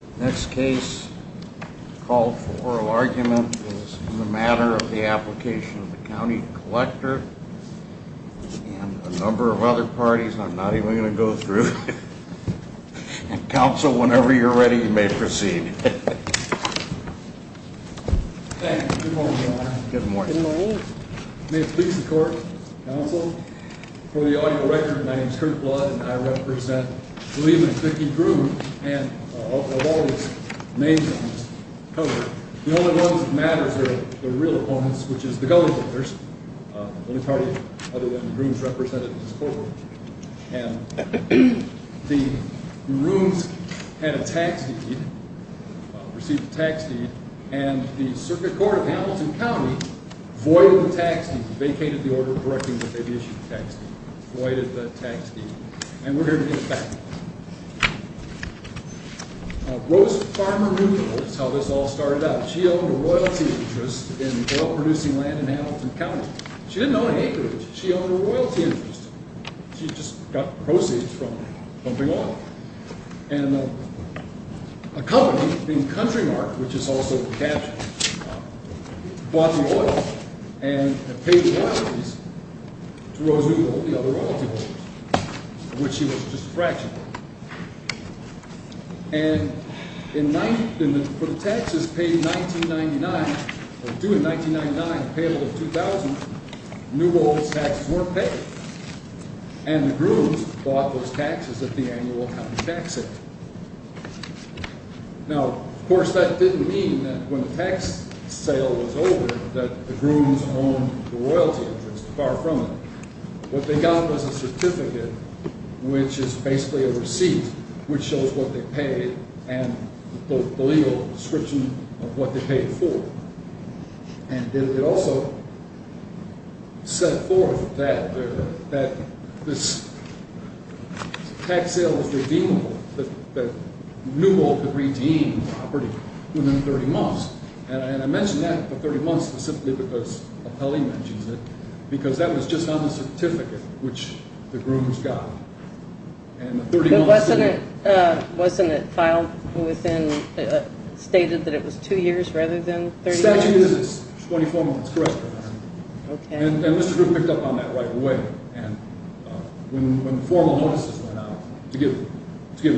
The next case called for oral argument is in the matter of the application of the County Collector and a number of other parties I'm not even going to go through. And Council, whenever you're ready, you may proceed. Thank you. Good morning, Your Honor. Good morning. May it please the Court, Council, for the audio record, my name is Curt Blood and I represent William and Vicki Groome and of all these names on this cover. The only ones that matter are the real opponents, which is the Gulley voters, the only party other than Groome's represented in this courtroom. And Groome's had a tax deed, well, received a tax deed, and the Circuit Court of Hamilton County voided the tax deed, vacated the order directing that they be issued a tax deed, voided the tax deed. And we're here to get it back. Rose Farmer Neutral is how this all started out. She owned a royalty interest in oil-producing land in Hamilton County. She didn't own an acreage. She owned a royalty interest. She just got proceeds from pumping oil. And a company named Countrymark, which is also the cashier, bought the oil and paid the royalties to Rose Neutral and the other royalty holders, of which she was just a fraction. And for the taxes paid in 1999, or due in 1999, payable in 2000, New Gold's taxes weren't paid. And the Groomes bought those taxes at the annual Hamilton Tax Sale. Now, of course, that didn't mean that when the tax sale was over that the Groomes owned the royalty interest. Far from it. What they got was a certificate, which is basically a receipt, which shows what they paid and the legal description of what they paid for. And it also set forth that this tax sale was redeemable, that New Gold could redeem property within 30 months. And I mention that, the 30 months, specifically because Appellee mentions it, because that was just on the certificate, which the Groomes got. But wasn't it filed within, stated that it was two years rather than 30 months? The statute is 24 months, correct, Your Honor. And Mr. Groove picked up on that right away. And when the formal notices went out to give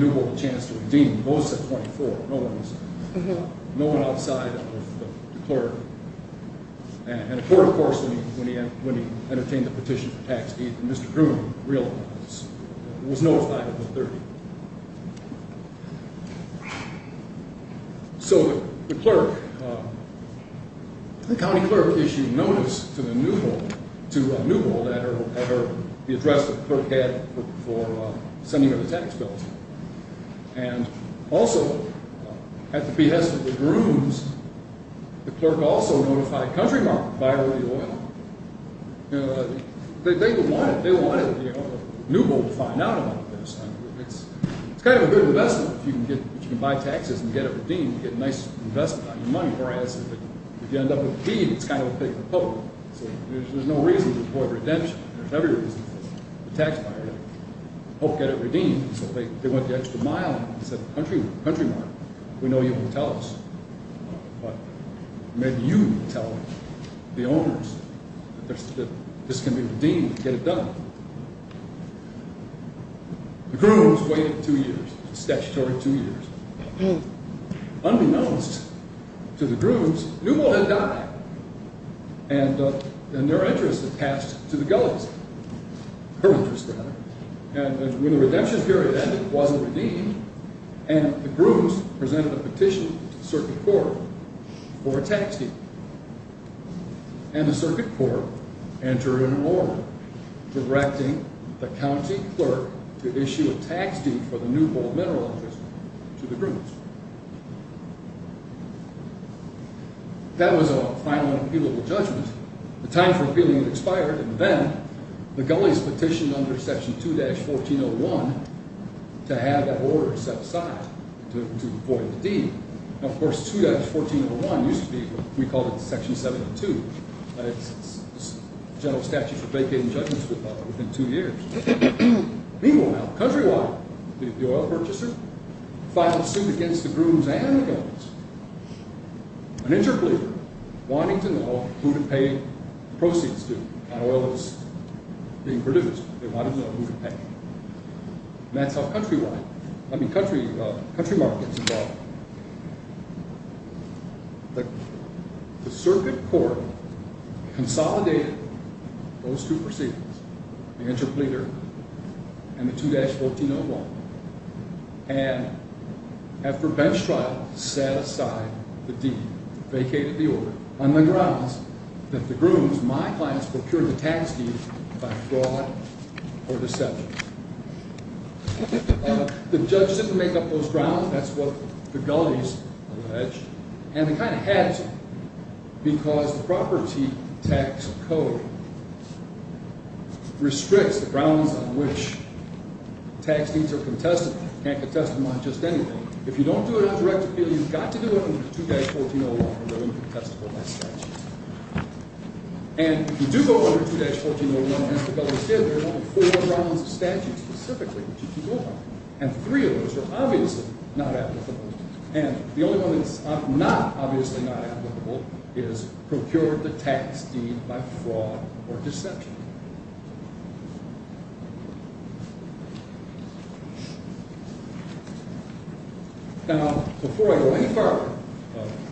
New Gold a chance to redeem, both said 24. No one was outside of the clerk. And of course, when he entertained the petition for tax, Mr. Groome was notified within 30. So the clerk, the county clerk issued notice to New Gold at her, the address that the clerk had for sending her the tax bills. And also, at the behest of the Groomes, the clerk also notified Country Market, buyer of the oil. They wanted New Gold to find out about this. It's kind of a good investment if you can buy taxes and get it redeemed, get a nice investment on your money. Whereas if you end up with a deed, it's kind of a pick for the Pope. So there's no reason to deploy redemption. There's every reason for the tax buyer to help get it redeemed. So they went the extra mile and said, Country Market, we know you can tell us. But maybe you can tell the owners that this can be redeemed and get it done. The Groomes waited two years, statutory two years. Unbeknownst to the Groomes, New Gold had died. And their interest had passed to the Gullies, her interest rather. And when the redemption period ended, it wasn't redeemed. And the Groomes presented a petition to the Circuit Court for a tax deed. And the Circuit Court entered an order directing the County Clerk to issue a tax deed for the New Gold mineral interest to the Groomes. That was a final and appealable judgment. The time for appealing had expired. And then the Gullies petitioned under Section 2-1401 to have that order set aside to void the deed. Now, of course, 2-1401 used to be, we called it Section 72. But it's a general statute for vacating judgments within two years. Meanwhile, Countrywide, the oil purchaser, filed suit against the Groomes and the Gullies. An interpleader wanting to know who to pay the proceeds to on oil that was being produced. They wanted to know who to pay. And that's how Countrywide, I mean, Countrymark gets involved. The Circuit Court consolidated those two proceedings, the interpleader and the 2-1401. And after bench trial, set aside the deed. Vacated the order on the grounds that the Groomes, my clients, procured the tax deed by fraud or deception. The judge didn't make up those grounds. That's what the Gullies alleged. And they kind of had to. Because the property tax code restricts the grounds on which tax deeds are contestable. You can't contest them on just anything. If you don't do it on direct appeal, you've got to do it under 2-1401 or they'll be contestable by statute. And if you do go under 2-1401, as the Gullies did, there are only four grounds of statute specifically that you can go by. And three of those are obviously not applicable. And the only one that's obviously not applicable is procured the tax deed by fraud or deception. Now, before I go any farther,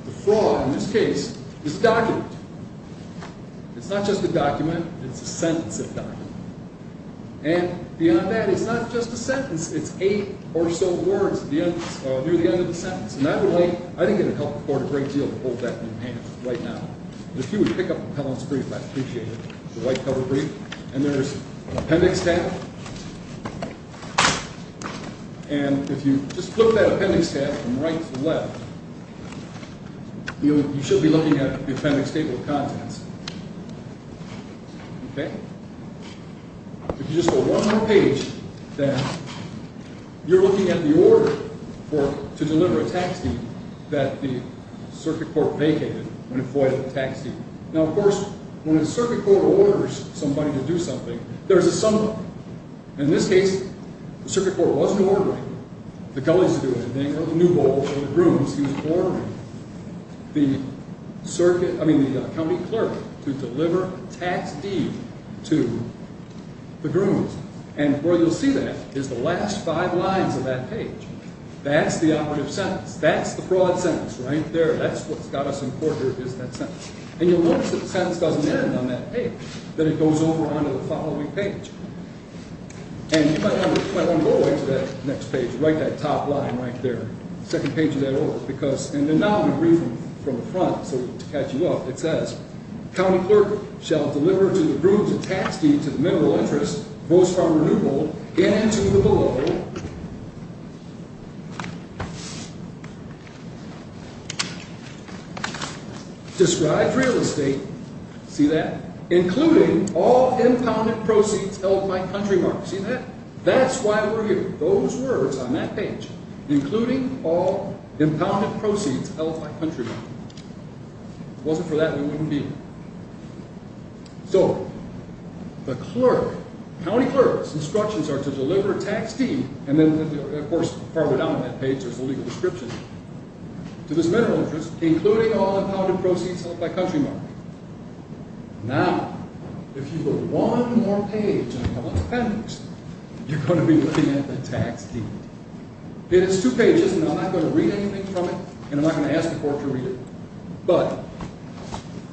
the fraud in this case is a document. It's not just a document. It's a sentence of document. And beyond that, it's not just a sentence. It's eight or so words near the end of the sentence. And I think it would help the Court a great deal to hold that in hand right now. If you would pick up the Pelham's brief, I'd appreciate it, the white cover brief. And there's an appendix tab. And if you just flip that appendix tab from right to left, you should be looking at the appendix table of contents. Okay? If you just go one more page, then, you're looking at the order to deliver a tax deed that the Circuit Court vacated when it foiled the tax deed. Now, of course, when the Circuit Court orders somebody to do something, there's a summary. In this case, the Circuit Court wasn't ordering the Gullies to do anything or the New Bowl or the Brooms. He was ordering the County Clerk to deliver a tax deed to the Grooms. And where you'll see that is the last five lines of that page. That's the operative sentence. That's the broad sentence right there. That's what's got us in court here is that sentence. And you'll notice that the sentence doesn't end on that page, that it goes over onto the following page. And you might want to go over to that next page, right to that top line right there, the second page of that order. And then now I'm going to read from the front to catch you up. It says, County Clerk shall deliver to the Grooms a tax deed to the mineral interest, most farmer New Bowl, and to the below, described real estate, see that, including all impounded proceeds held by Country Mark. See that? That's why we're here. Those words on that page, including all impounded proceeds held by Country Mark. If it wasn't for that, we wouldn't be here. So, the Clerk, County Clerk's instructions are to deliver a tax deed, and then, of course, farther down on that page there's a legal description, to this mineral interest, including all impounded proceeds held by Country Mark. Now, if you go one more page, and I have a lot of pen books, you're going to be looking at the tax deed. It's two pages, and I'm not going to read anything from it, and I'm not going to ask the Clerk to read it. But,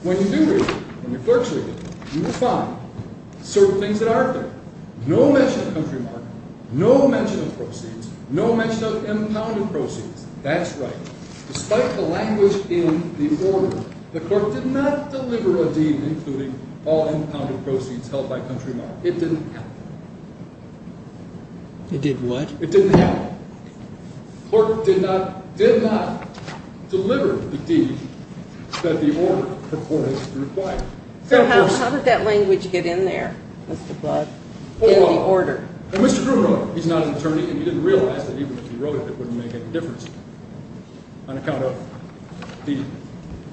when you do read it, when the Clerk's reading it, you will find certain things that are there. No mention of Country Mark, no mention of proceeds, no mention of impounded proceeds. That's right. Despite the language in the order, the Clerk did not deliver a deed including all impounded proceeds held by Country Mark. It didn't happen. It did what? It didn't happen. The Clerk did not deliver the deed that the order purported to require. So, how did that language get in there? Well, Mr. Groom wrote it. He's not an attorney, and he didn't realize that even if he wrote it, it wouldn't make any difference, on account of the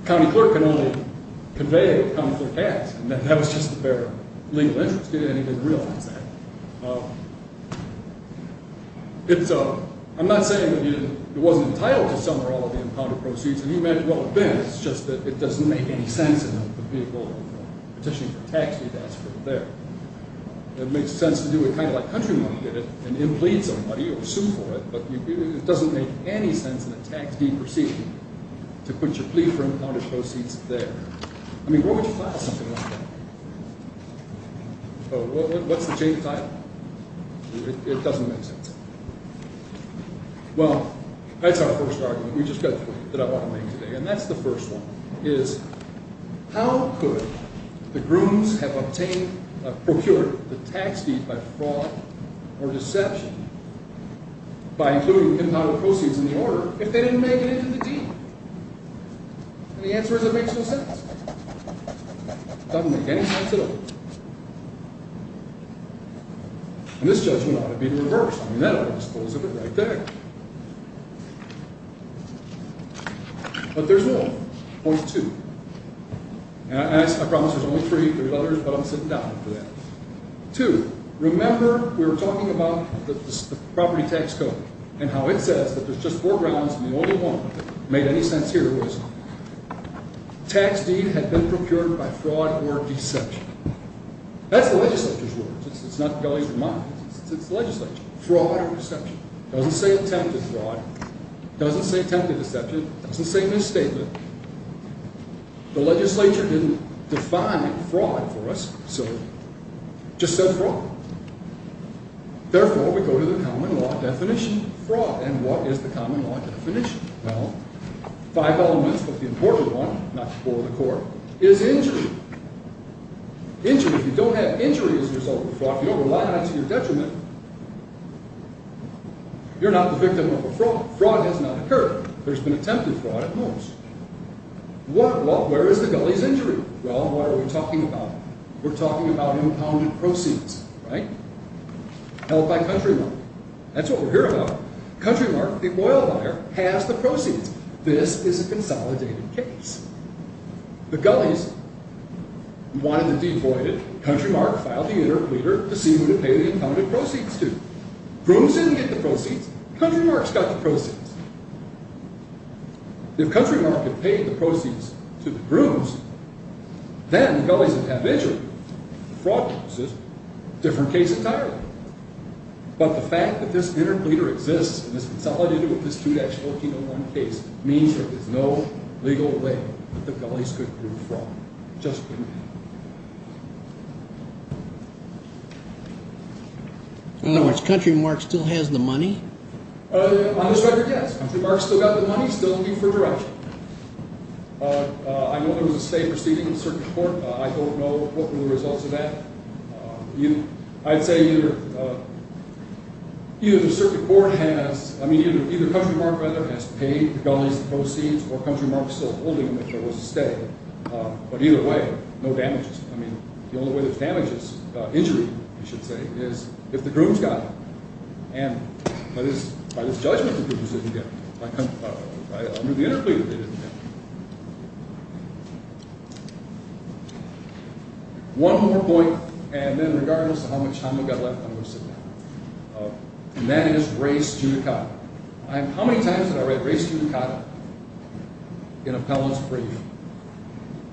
County Clerk can only convey what the County Clerk has, and that was just their legal interest. He didn't even realize that. I'm not saying that he wasn't entitled to some or all of the impounded proceeds, and he meant well then, it's just that it doesn't make any sense in the vehicle of petitioning for a tax deed to ask for it there. It makes sense to do it kind of like Country Mark did it, and then plead somebody or sue for it, but it doesn't make any sense in a tax deed proceeding to put your plea for impounded proceeds there. I mean, where would you file something like that? What's the chain of title? It doesn't make sense. Well, that's our first argument. We just got three that I want to make today, and that's the first one, is how could the grooms have obtained or procured the tax deed by fraud or deception by including impounded proceeds in the order if they didn't make it into the deed? And the answer is it makes no sense. It doesn't make any sense at all. And this judgment ought to be reversed. I mean, that ought to dispose of it right there. But there's one, point two, and I promise there's only three, three letters, but I'm sitting down for that. Two, remember we were talking about the property tax code and how it says that there's just four grounds, and the only one that made any sense here was tax deed had been procured by fraud or deception. That's the legislature's words. It's not Gulley's or mine. It's the legislature's. Fraud or deception. It doesn't say attempted fraud. It doesn't say attempted deception. It doesn't say misstatement. The legislature didn't define fraud for us, so it just said fraud. Therefore, we go to the common law definition of fraud, and what is the common law definition? Well, five elements, but the important one, not to bore the court, is injury. If you don't have injury as a result of a fraud, if you don't rely on it to your detriment, you're not the victim of a fraud. Fraud has not occurred, but it's been attempted fraud at most. Where is the Gulley's injury? Well, what are we talking about? We're talking about impounded proceeds, held by Countrymark. That's what we're here about. Countrymark, the oil buyer, has the proceeds. This is a consolidated case. The Gulley's wanted to devoid it. Countrymark filed the inner pleader to see who to pay the impounded proceeds to. Brooms didn't get the proceeds. Countrymark's got the proceeds. If Countrymark had paid the proceeds to the Brooms, then the Gulley's would have injury. Fraud uses a different case entirely. But the fact that this inner pleader exists and is consolidated with this 2-1401 case means there is no legal way that the Gulley's could be a fraud. It just couldn't be. In other words, Countrymark still has the money? On this record, yes. Countrymark's still got the money, still looking for direction. I know there was a state proceeding in the Circuit Court. I don't know what were the results of that. I'd say either Countrymark has paid the Gulley's the proceeds, or Countrymark's still holding them if there was a state. But either way, no damages. The only way there's damage is injury, I should say, is if the Brooms got it. And by this judgment, the Brooms didn't get it. By moving the inner pleader, they didn't get it. One more point, and then regardless of how much time we've got left, I'm going to sit down. And that is race judicata. How many times did I write race judicata in appellant's brief?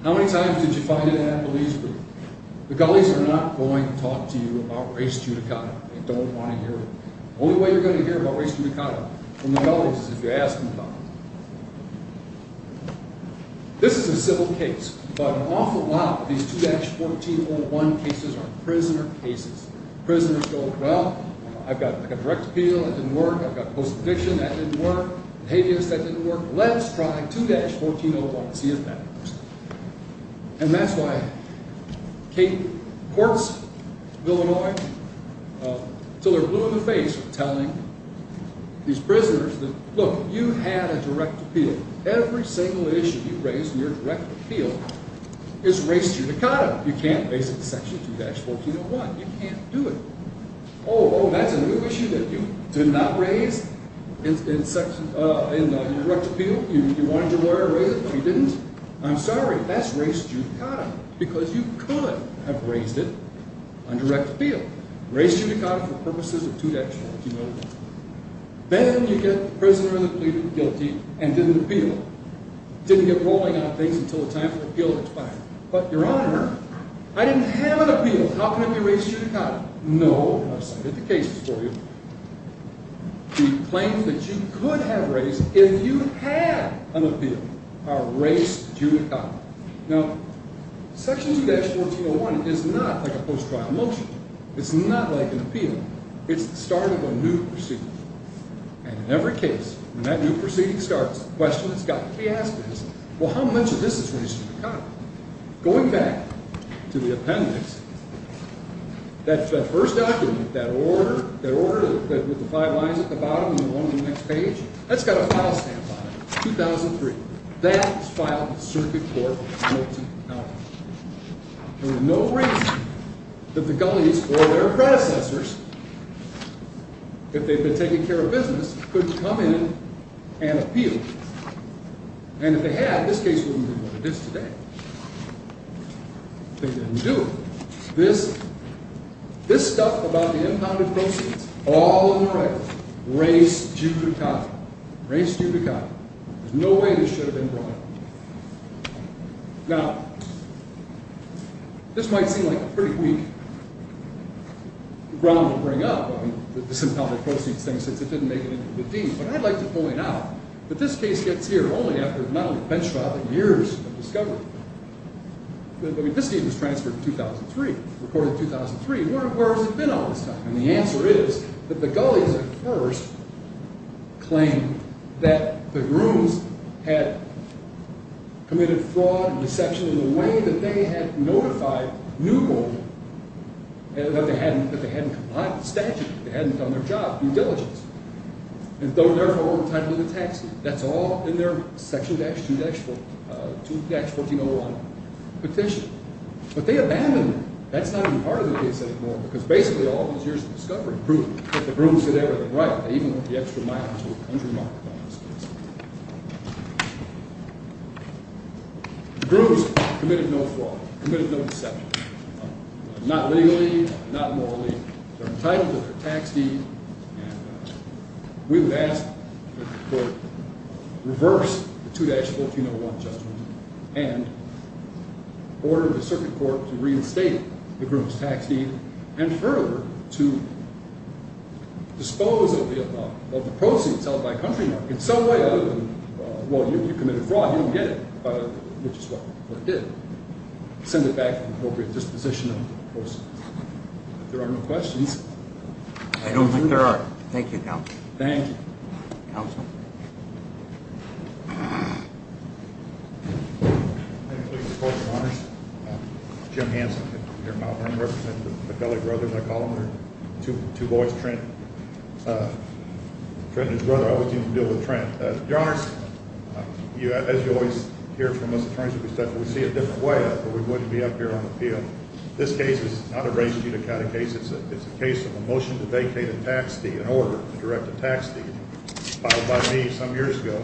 How many times did you find it in a police brief? The Gulley's are not going to talk to you about race judicata. They don't want to hear it. The only way you're going to hear about race judicata from the Gulley's is if you ask them about it. This is a civil case, but an awful lot of these 2-1401 cases are prisoner cases. Prisoners go, well, I've got direct appeal, that didn't work. I've got post-addiction, that didn't work. Behaviorist, that didn't work. Let's try 2-1401 and see if that works. And that's why Kate Courts, Illinois, until they're blue in the face for telling these prisoners, look, you had a direct appeal. Every single issue you raised in your direct appeal is race judicata. You can't base it in section 2-1401. You can't do it. Oh, that's a new issue that you did not raise in your direct appeal? You wanted your lawyer to raise it, but he didn't? I'm sorry, that's race judicata. Because you could have raised it on direct appeal. Race judicata for purposes of 2-1401. Then you get the prisoner in the plea guilty and didn't appeal. Didn't get rolling on things until the time for the appeal expired. But, Your Honor, I didn't have an appeal. How can it be race judicata? No, I've cited the cases for you. You claimed that you could have raised it if you had an appeal. A race judicata. Now, section 2-1401 is not like a post-trial motion. It's not like an appeal. It's the start of a new proceeding. And in every case, when that new proceeding starts, the question that's got to be asked is, well, how much of this is race judicata? Going back to the appendix, that first document, that order with the five lines at the bottom and the one on the next page, that's got a file stamp on it. It's 2003. That was filed with Circuit Court in Milton County. There was no reason that the Gullies or their predecessors, if they'd been taking care of business, couldn't come in and appeal. And if they had, this case wouldn't be what it is today. They didn't do it. This stuff about the impounded proceeds, all on the right, race judicata. Race judicata. There's no way this should have been brought up. Now, this might seem like a pretty weak ground to bring up, the impounded proceeds thing, since it didn't make it into the deed. But I'd like to point out that this case gets here only after not only a bench trial, but years of discovery. I mean, this deed was transferred in 2003, recorded in 2003. Where has it been all this time? And the answer is that the Gullies at first claimed that the grooms had committed fraud and deception in the way that they had notified Newport that they hadn't complied with the statute, that they hadn't done their job due diligence, and therefore were entitled to the taxes. That's all in their section 2-1401 petition. But they abandoned it. That's not even part of the case anymore, because basically all those years of discovery proved that the grooms they were on the right, that even the extra miles were undemocratized. The grooms committed no fraud, committed no deception, not legally, not morally. They're entitled to their tax deed, and we would ask that the court reverse the 2-1401 judgment and order the circuit court to reinstate the grooms' tax deed and further to dispose of the proceeds held by Countrymark in some way other than, well, you committed fraud, you don't get it, which is what it did. Send it back to the appropriate disposition of the proceeds. If there are no questions. I don't think there are. Thank you, counsel. Thank you. Counsel? I'm pleased to report, Your Honors. Jim Hansen, here in Mount Vernon, representing the Fedele brothers, I call them. They're two boys, Trent and his brother. I always seem to deal with Trent. Your Honors, as you always hear from us attorneys, we see it a different way. We wouldn't be up here on the field. This case is not a race-to-category case. It's a case of a motion to vacate a tax deed, an order to direct a tax deed, filed by me some years ago.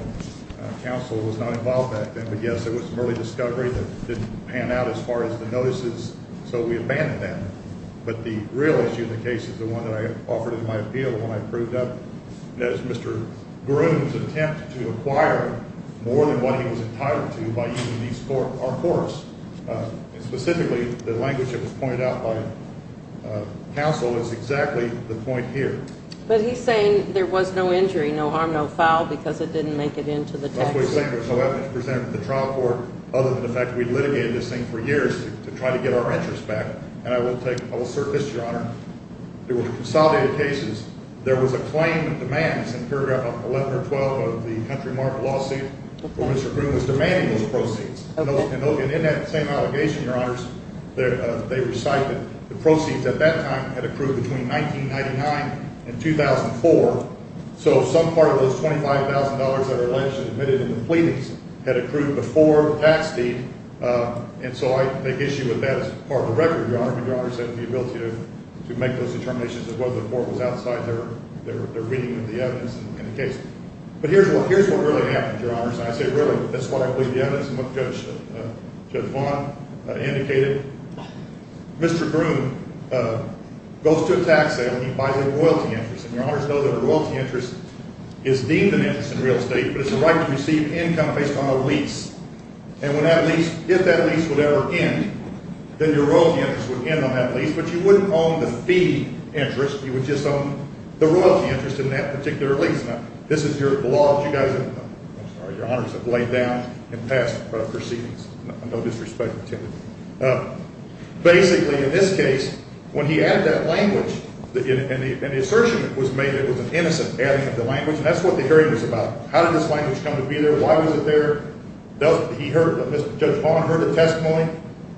Counsel was not involved back then. But, yes, there was some early discovery that didn't pan out as far as the notices, so we abandoned that. But the real issue in the case is the one that I offered in my appeal when I proved up Mr. Groom's attempt to acquire more than what he was entitled to by using these four horse. Specifically, the language that was pointed out by counsel is exactly the point here. But he's saying there was no injury, no harm, no foul, because it didn't make it into the text. That's what he's saying. It was presented to the trial court other than the fact that we litigated this thing for years to try to get our interest back. And I will assert this, Your Honor. There were consolidated cases. There was a claim that demands in paragraph 11 or 12 of the country-marked lawsuit where Mr. Groom was demanding those proceeds. And in that same allegation, Your Honors, they recite that the proceeds at that time had accrued between 1999 and 2004, so some part of those $25,000 that are allegedly admitted in the pleadings had accrued before the tax deed. And so I make issue with that as part of the record, Your Honor, but Your Honor said the ability to make those determinations as well as the court was outside their reading of the evidence in the case. But here's what really happened, Your Honors. And I say really. That's what I believe the evidence and what Judge Vaughn indicated. Mr. Groom goes to a tax sale and he buys a royalty interest. And Your Honors know that a royalty interest is deemed an interest in real estate, but it's a right to receive income based on a lease. And when that lease – if that lease would ever end, then your royalty interest would end on that lease, but you wouldn't own the fee interest. You would just own the royalty interest in that particular lease. Now, this is your law that you guys – I'm sorry. Your Honors have laid down and passed proceedings. No disrespect intended. Basically, in this case, when he added that language, and the assertion was made that it was an innocent adding of the language, and that's what the hearing was about. How did this language come to be there? Why was it there? He heard – Judge Vaughn heard the testimony.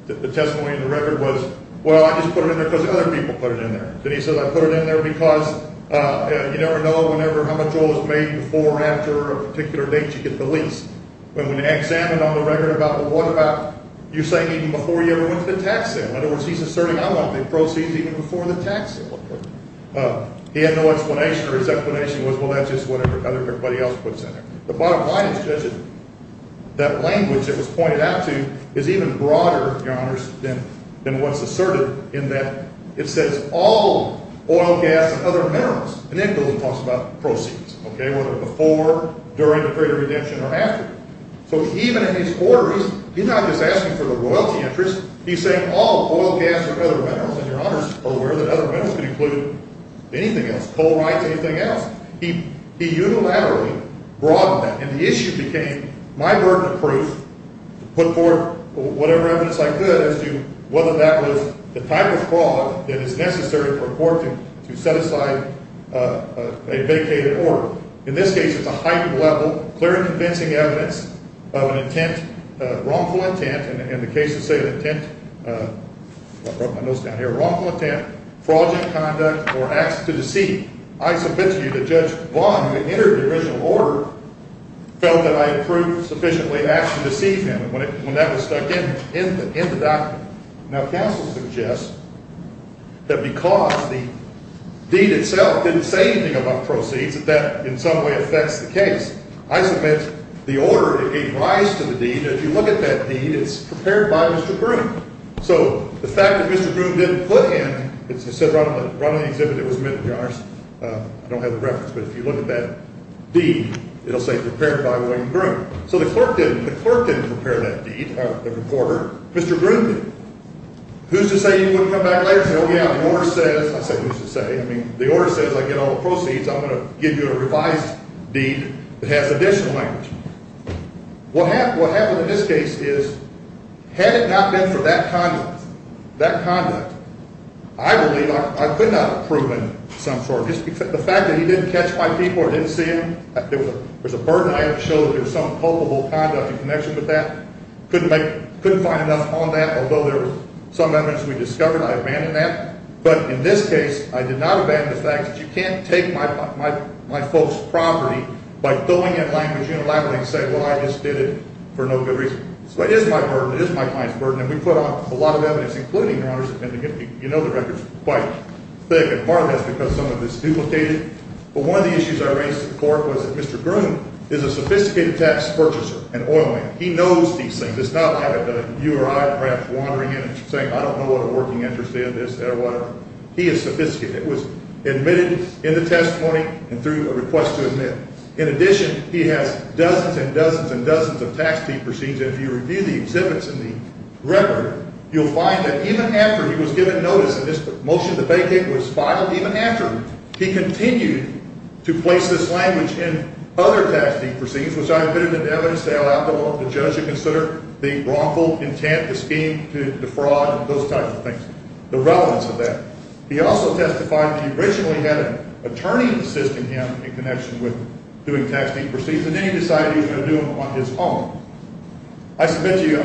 The testimony in the record was, well, I just put it in there because other people put it in there. Then he said, I put it in there because you never know whenever – how much oil is made before or after a particular date you get the lease. But when examined on the record about the what about, you say even before you ever went to the tax sale. In other words, he's asserting I want the proceeds even before the tax sale. He had no explanation, or his explanation was, well, that's just what everybody else puts in there. The bottom line is, Judge, that language that was pointed out to you is even broader, Your Honors, than what's asserted, in that it says all oil, gas, and other minerals. And then Bill talks about proceeds, okay, whether before, during the period of redemption, or after. So even in his orderings, he's not just asking for the royalty interest. He's saying all oil, gas, and other minerals, and Your Honors are aware that other minerals could include anything else, coal rights, anything else. He unilaterally broadened that, and the issue became my burden of proof to put forward whatever evidence I could as to whether that was the type of fraud that is necessary for a court to set aside a vacated order. In this case, it's a heightened level, clear and convincing evidence of an intent, wrongful intent, and the cases say intent, I brought my notes down here, wrongful intent, fraudulent conduct, or acts to deceive. I submit to you that Judge Vaughn, who entered the original order, felt that I had proved sufficiently acts to deceive him when that was stuck in the document. Now, counsel suggests that because the deed itself didn't say anything about proceeds, that that in some way affects the case. I submit the order gave rise to the deed, and if you look at that deed, it's prepared by Mr. Broom. So the fact that Mr. Broom didn't put in, it's said right on the exhibit, it was submitted, Your Honors. I don't have the reference, but if you look at that deed, it'll say prepared by William Broom. So the clerk didn't prepare that deed, the recorder, Mr. Broom did. Who's to say you wouldn't come back later? Oh, yeah, the order says, I say who's to say, I mean, the order says I get all the proceeds, I'm going to give you a revised deed that has additional language. What happened in this case is, had it not been for that conduct, that conduct, I believe I could not have proven some sort. The fact that he didn't catch my people or didn't see them, there was a burden I had to show that there was some culpable conduct in connection with that. Couldn't find enough on that, although there was some evidence we discovered, I abandoned that. But in this case, I did not abandon the fact that you can't take my folks' property by filling in language unilaterally and say, well, I just did it for no good reason. So it is my burden, it is my client's burden, and we put a lot of evidence, including, Your Honors. You know the record's quite thick, and part of that's because some of it's duplicated. But one of the issues I raised to the court was that Mr. Broom is a sophisticated tax purchaser, an oil man. He knows these things. It's not like you or I perhaps wandering in and saying, I don't know what a working interest is or whatever. He is sophisticated. It was admitted in the testimony and through a request to admit. In addition, he has dozens and dozens and dozens of tax deed proceeds. And if you review the exhibits in the record, you'll find that even after he was given notice that this motion to vacate was filed, even after he continued to place this language in other tax deed proceeds, which I admitted in the evidence to allow the judge to consider the wrongful intent, the scheme to defraud, and those types of things, the relevance of that. He also testified that he originally had an attorney assisting him in connection with doing tax deed proceeds, and then he decided he was going to do them on his own. I submit to you,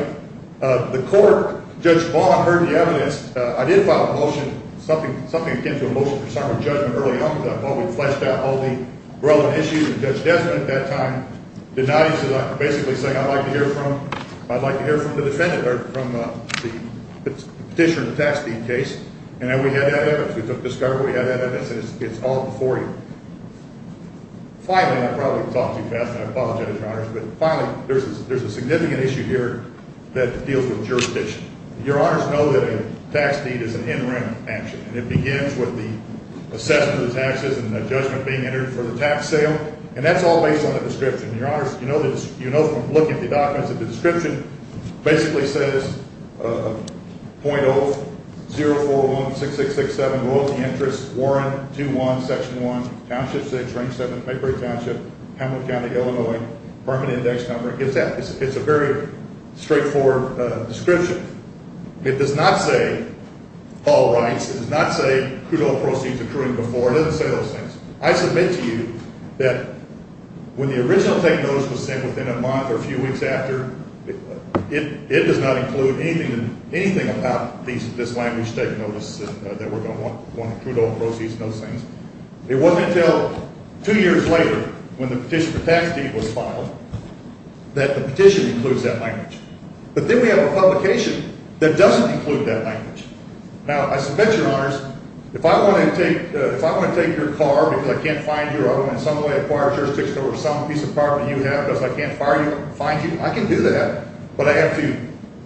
the court, Judge Baum heard the evidence. I did file a motion, something akin to a motion for summary judgment early on, while we fleshed out all the relevant issues with Judge Desmond at that time, did not, he said, basically saying, I'd like to hear from the defendant or from the petitioner in the tax deed case. And we had that evidence. We took discovery. We had that evidence. And it's all before you. Finally, I probably talked too fast, and I apologize, Your Honors, but finally, there's a significant issue here that deals with jurisdiction. Your Honors know that a tax deed is an interim action, and it begins with the assessment of the taxes and the judgment being entered for the tax sale, and that's all based on the description. Your Honors, you know from looking at the documents that the description basically says, .04016667, loyalty interest, Warren, 2-1, Section 1, Township 6, Range 7, Pembroke Township, Hamilton County, Illinois, apartment index number, it's a very straightforward description. It does not say all rights. It does not say crude oil proceeds accruing before. It doesn't say those things. I submit to you that when the original thing goes within a month or a few weeks after, it does not include anything about this language taking notice that we're going to want crude oil proceeds and those things. It wasn't until two years later when the petition for tax deed was filed that the petition includes that language. But then we have a publication that doesn't include that language. Now, I submit, Your Honors, if I want to take your car because I can't find your car, and in some way acquire jurisdiction over some piece of property you have because I can't find you, I can do that. But I have to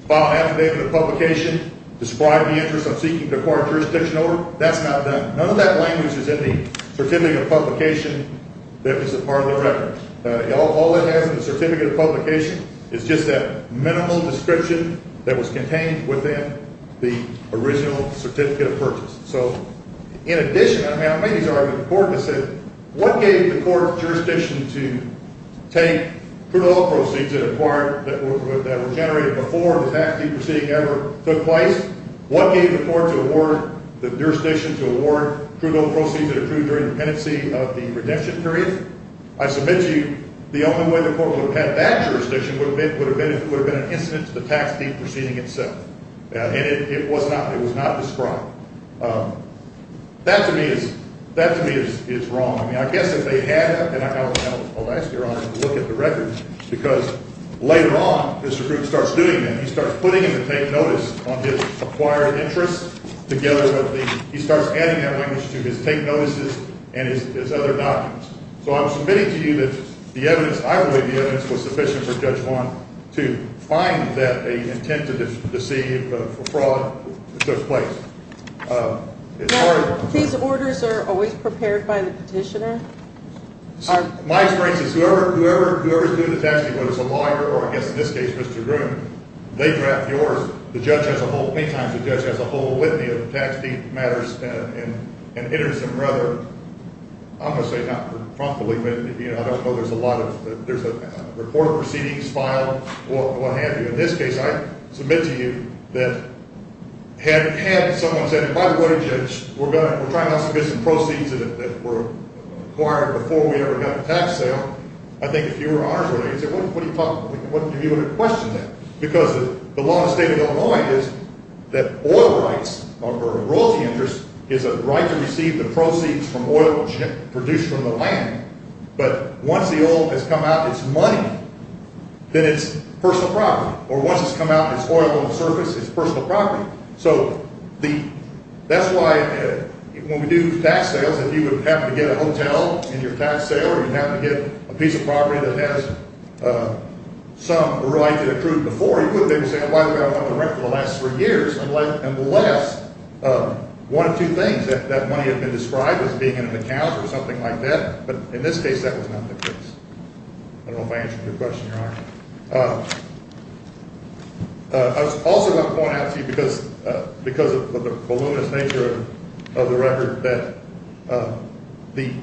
file an affidavit of publication, describe the interest of seeking to acquire jurisdiction over, that's not done. None of that language is in the certificate of publication that was a part of the record. All it has in the certificate of publication is just that minimal description that was contained within the original certificate of purchase. So in addition, I mean, I've made these arguments before, but I said what gave the court jurisdiction to take crude oil proceeds that were generated before the tax deed proceeding ever took place? What gave the court the jurisdiction to award crude oil proceeds that were approved during the penancy of the redemption period? I submit to you the only way the court would have had that jurisdiction would have been an incident to the tax deed proceeding itself. And it was not described. That, to me, is wrong. I mean, I guess if they had that, and I'll ask Your Honor to look at the record, because later on, Mr. Groot starts doing that. He starts putting in the taint notice on his acquired interest together with the ‑‑ he starts adding that language to his taint notices and his other documents. So I'm submitting to you that the evidence ‑‑ I believe the evidence was sufficient for Judge Wong to find that an intent to deceive for fraud took place. Now, these orders are always prepared by the petitioner? My experience is whoever is doing the tax deed, whether it's a lawyer or I guess in this case Mr. Groot, they draft the order. The judge has a whole ‑‑ many times the judge has a whole litany of tax deed matters and enters them rather, I'm going to say not frankly, but I don't know, there's a lot of ‑‑ there's a report of proceedings filed, what have you. In this case, I submit to you that had someone said, by the way, Judge, we're trying to get some proceeds that were acquired before we ever got the tax sale, I think if you were ours, you would have questioned that. Because the law in the state of Illinois is that oil rights or royalty interest is a right to receive the proceeds from oil produced from the land, but once the oil has come out, it's money, then it's personal property. Or once it's come out and it's oil on the surface, it's personal property. So the ‑‑ that's why when we do tax sales, if you happen to get a hotel in your tax sale, or you happen to get a piece of property that has some royalty accrued before, you would maybe say, well, why have we not done the rent for the last three years, unless one of two things, that money had been described as being in an account or something like that, but in this case that was not the case. I don't know if I answered your question, Your Honor. I also want to point out to you, because of the voluminous nature of the record, that the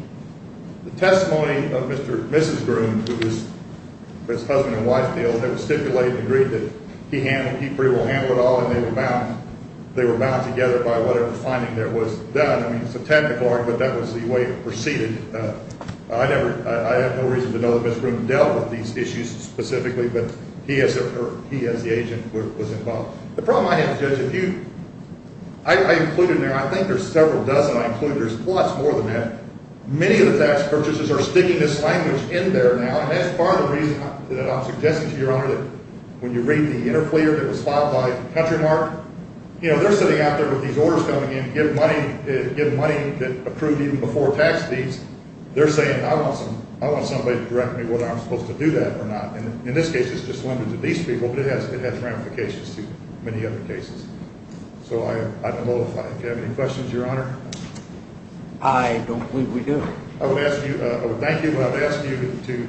testimony of Mr. and Mrs. Groom, who was husband and wife, they all had stipulated and agreed that he pretty well handled it all, and they were bound together by whatever finding there was done. I mean, it's a technical argument, but that was the way it proceeded. I have no reason to know that Mr. Groom dealt with these issues specifically, but he as the agent was involved. The problem I have, Judge, if you ‑‑ I included in there, I think there's several dozen I included, there's lots more than that. Many of the tax purchasers are sticking this language in there now, and that's part of the reason that I'm suggesting to you, Your Honor, that when you read the interfleer that was filed by Countrymark, they're sitting out there with these orders coming in, and when you give money that approved even before tax deeds, they're saying, I want somebody to direct me whether I'm supposed to do that or not. In this case, it's just limited to these people, but it has ramifications to many other cases. So I don't know if I have any questions, Your Honor. I don't believe we do. I would ask you ‑‑ I would thank you, but I would ask you to,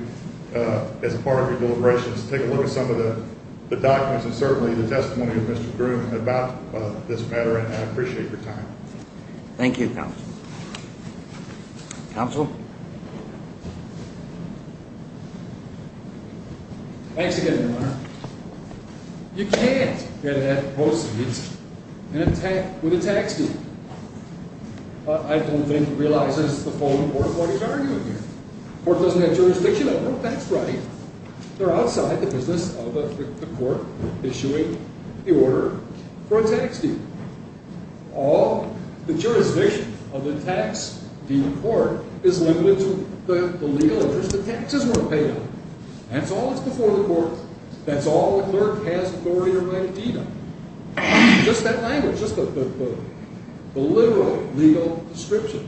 as part of your deliberations, take a look at some of the documents and certainly the testimony of Mr. Groom about this matter, and I appreciate your time. Thank you, Counsel. Thanks again, Your Honor. You can't get at proceeds with a tax deed. I don't think it realizes the full importance of arguing here. The court doesn't have jurisdiction over it, that's right. They're outside the business of the court issuing the order for a tax deed. All the jurisdiction of the tax deed court is limited to the legal interest that taxes were paid on. That's all that's before the court. That's all the clerk has authority or right to deed on. Just that language, just the literal legal description.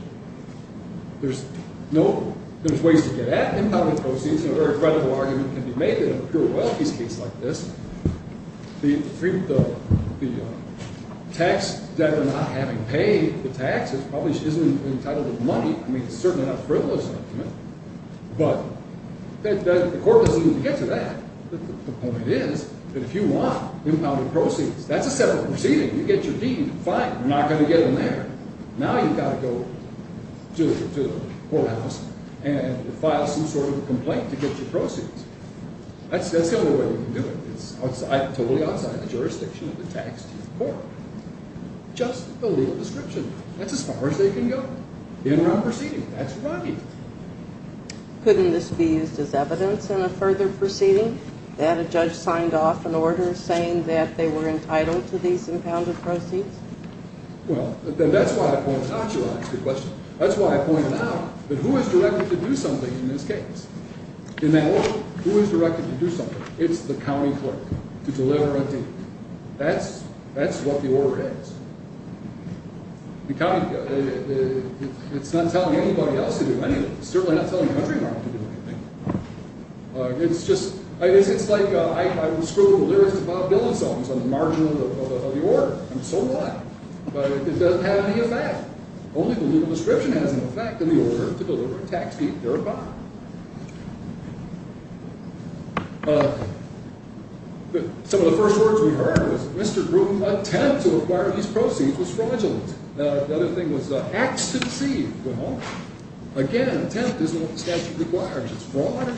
There's ways to get at impounded proceeds. A very credible argument can be made that in a pure royalties case like this, the tax debtor not having paid the taxes probably isn't entitled to money. I mean, it's certainly not a frivolous argument. But the court doesn't even get to that. The point is that if you want impounded proceeds, that's a separate proceeding. You get your deed, fine, you're not going to get in there. Now you've got to go to the courthouse and file some sort of a complaint to get your proceeds. That's the only way you can do it. It's totally outside the jurisdiction of the tax deed court. Just the legal description. That's as far as they can go. The interim proceeding, that's right. Couldn't this be used as evidence in a further proceeding? That a judge signed off an order saying that they were entitled to these impounded proceeds? Well, that's why I pointed out to you last week, that's why I pointed out that who is directed to do something in this case? In that order, who is directed to do something? It's the county clerk to deliver a deed. That's what the order is. The county clerk. It's not telling anybody else to do anything. It's certainly not telling the country clerk to do anything. It's just, it's like I was scrubbing the lyrics to Bob Dylan's songs on the margin of the order. And so what? But it doesn't have any effect. Only the legal description has an effect in the order to deliver a tax deed thereby. Some of the first words we heard was, Mr. Gruen, attempt to acquire these proceeds was fraudulent. The other thing was acts to deceive. Well, again, attempt isn't what the statute requires. Not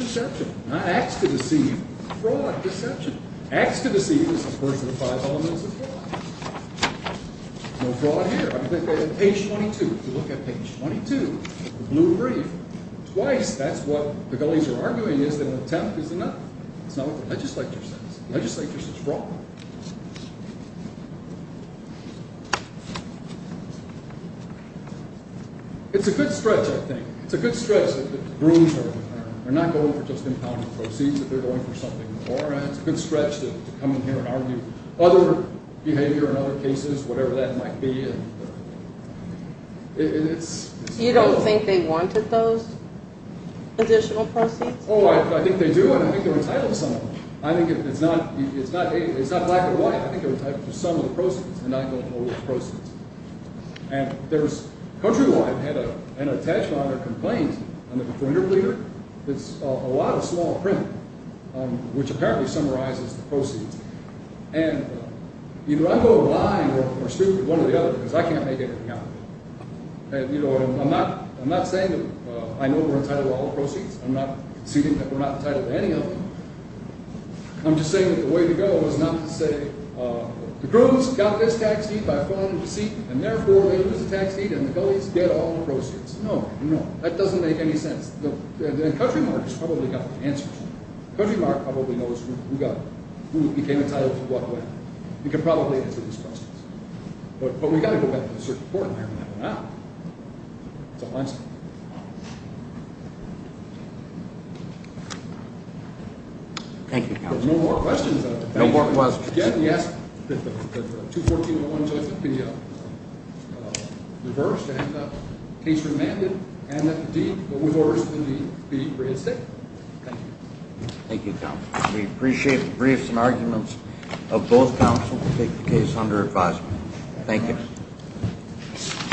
acts to deceive. Fraud, deception. Acts to deceive is the first of the five elements of fraud. No fraud here. On page 22, if you look at page 22, the blue brief, twice that's what the gullies are arguing is that an attempt is enough. That's not what the legislature says. The legislature says fraud. It's a good stretch, I think. It's a good stretch that Gruen's heard the term. They're not going for just impounding proceeds. They're going for something more. And it's a good stretch to come in here and argue other behavior and other cases, whatever that might be. You don't think they wanted those additional proceeds? Oh, I think they do. And I think they're entitled to some of them. I think it's not black and white. I think they're entitled to some of the proceeds. And I don't know which proceeds. And Countrywide had an attachment or complaint on the defender pleader. It's a lot of small print, which apparently summarizes the proceeds. And either I'm going to lie or screw with one or the other, because I can't make anything out of it. I'm not saying that I know we're entitled to all the proceeds. I'm not conceding that we're not entitled to any of them. I'm just saying that the way to go is not to say, the Gruens got this tax deed by falling into deceit, and therefore they lose the tax deed and the gullies get all the proceeds. No, no, that doesn't make any sense. And Countrymark has probably got the answers. Countrymark probably knows who became entitled to what way. He can probably answer these questions. But we've got to go back to the circuit court and figure that one out. That's all I'm saying. Thank you, Counselor. No more questions. No more questions. Again, we ask that the 214.1 be reversed and that the case be remanded and that the deed, but with orders from the deed, be reinstated. Thank you. Thank you, Counselor. We appreciate the briefs and arguments of both counsel to take the case under advisement. Thank you.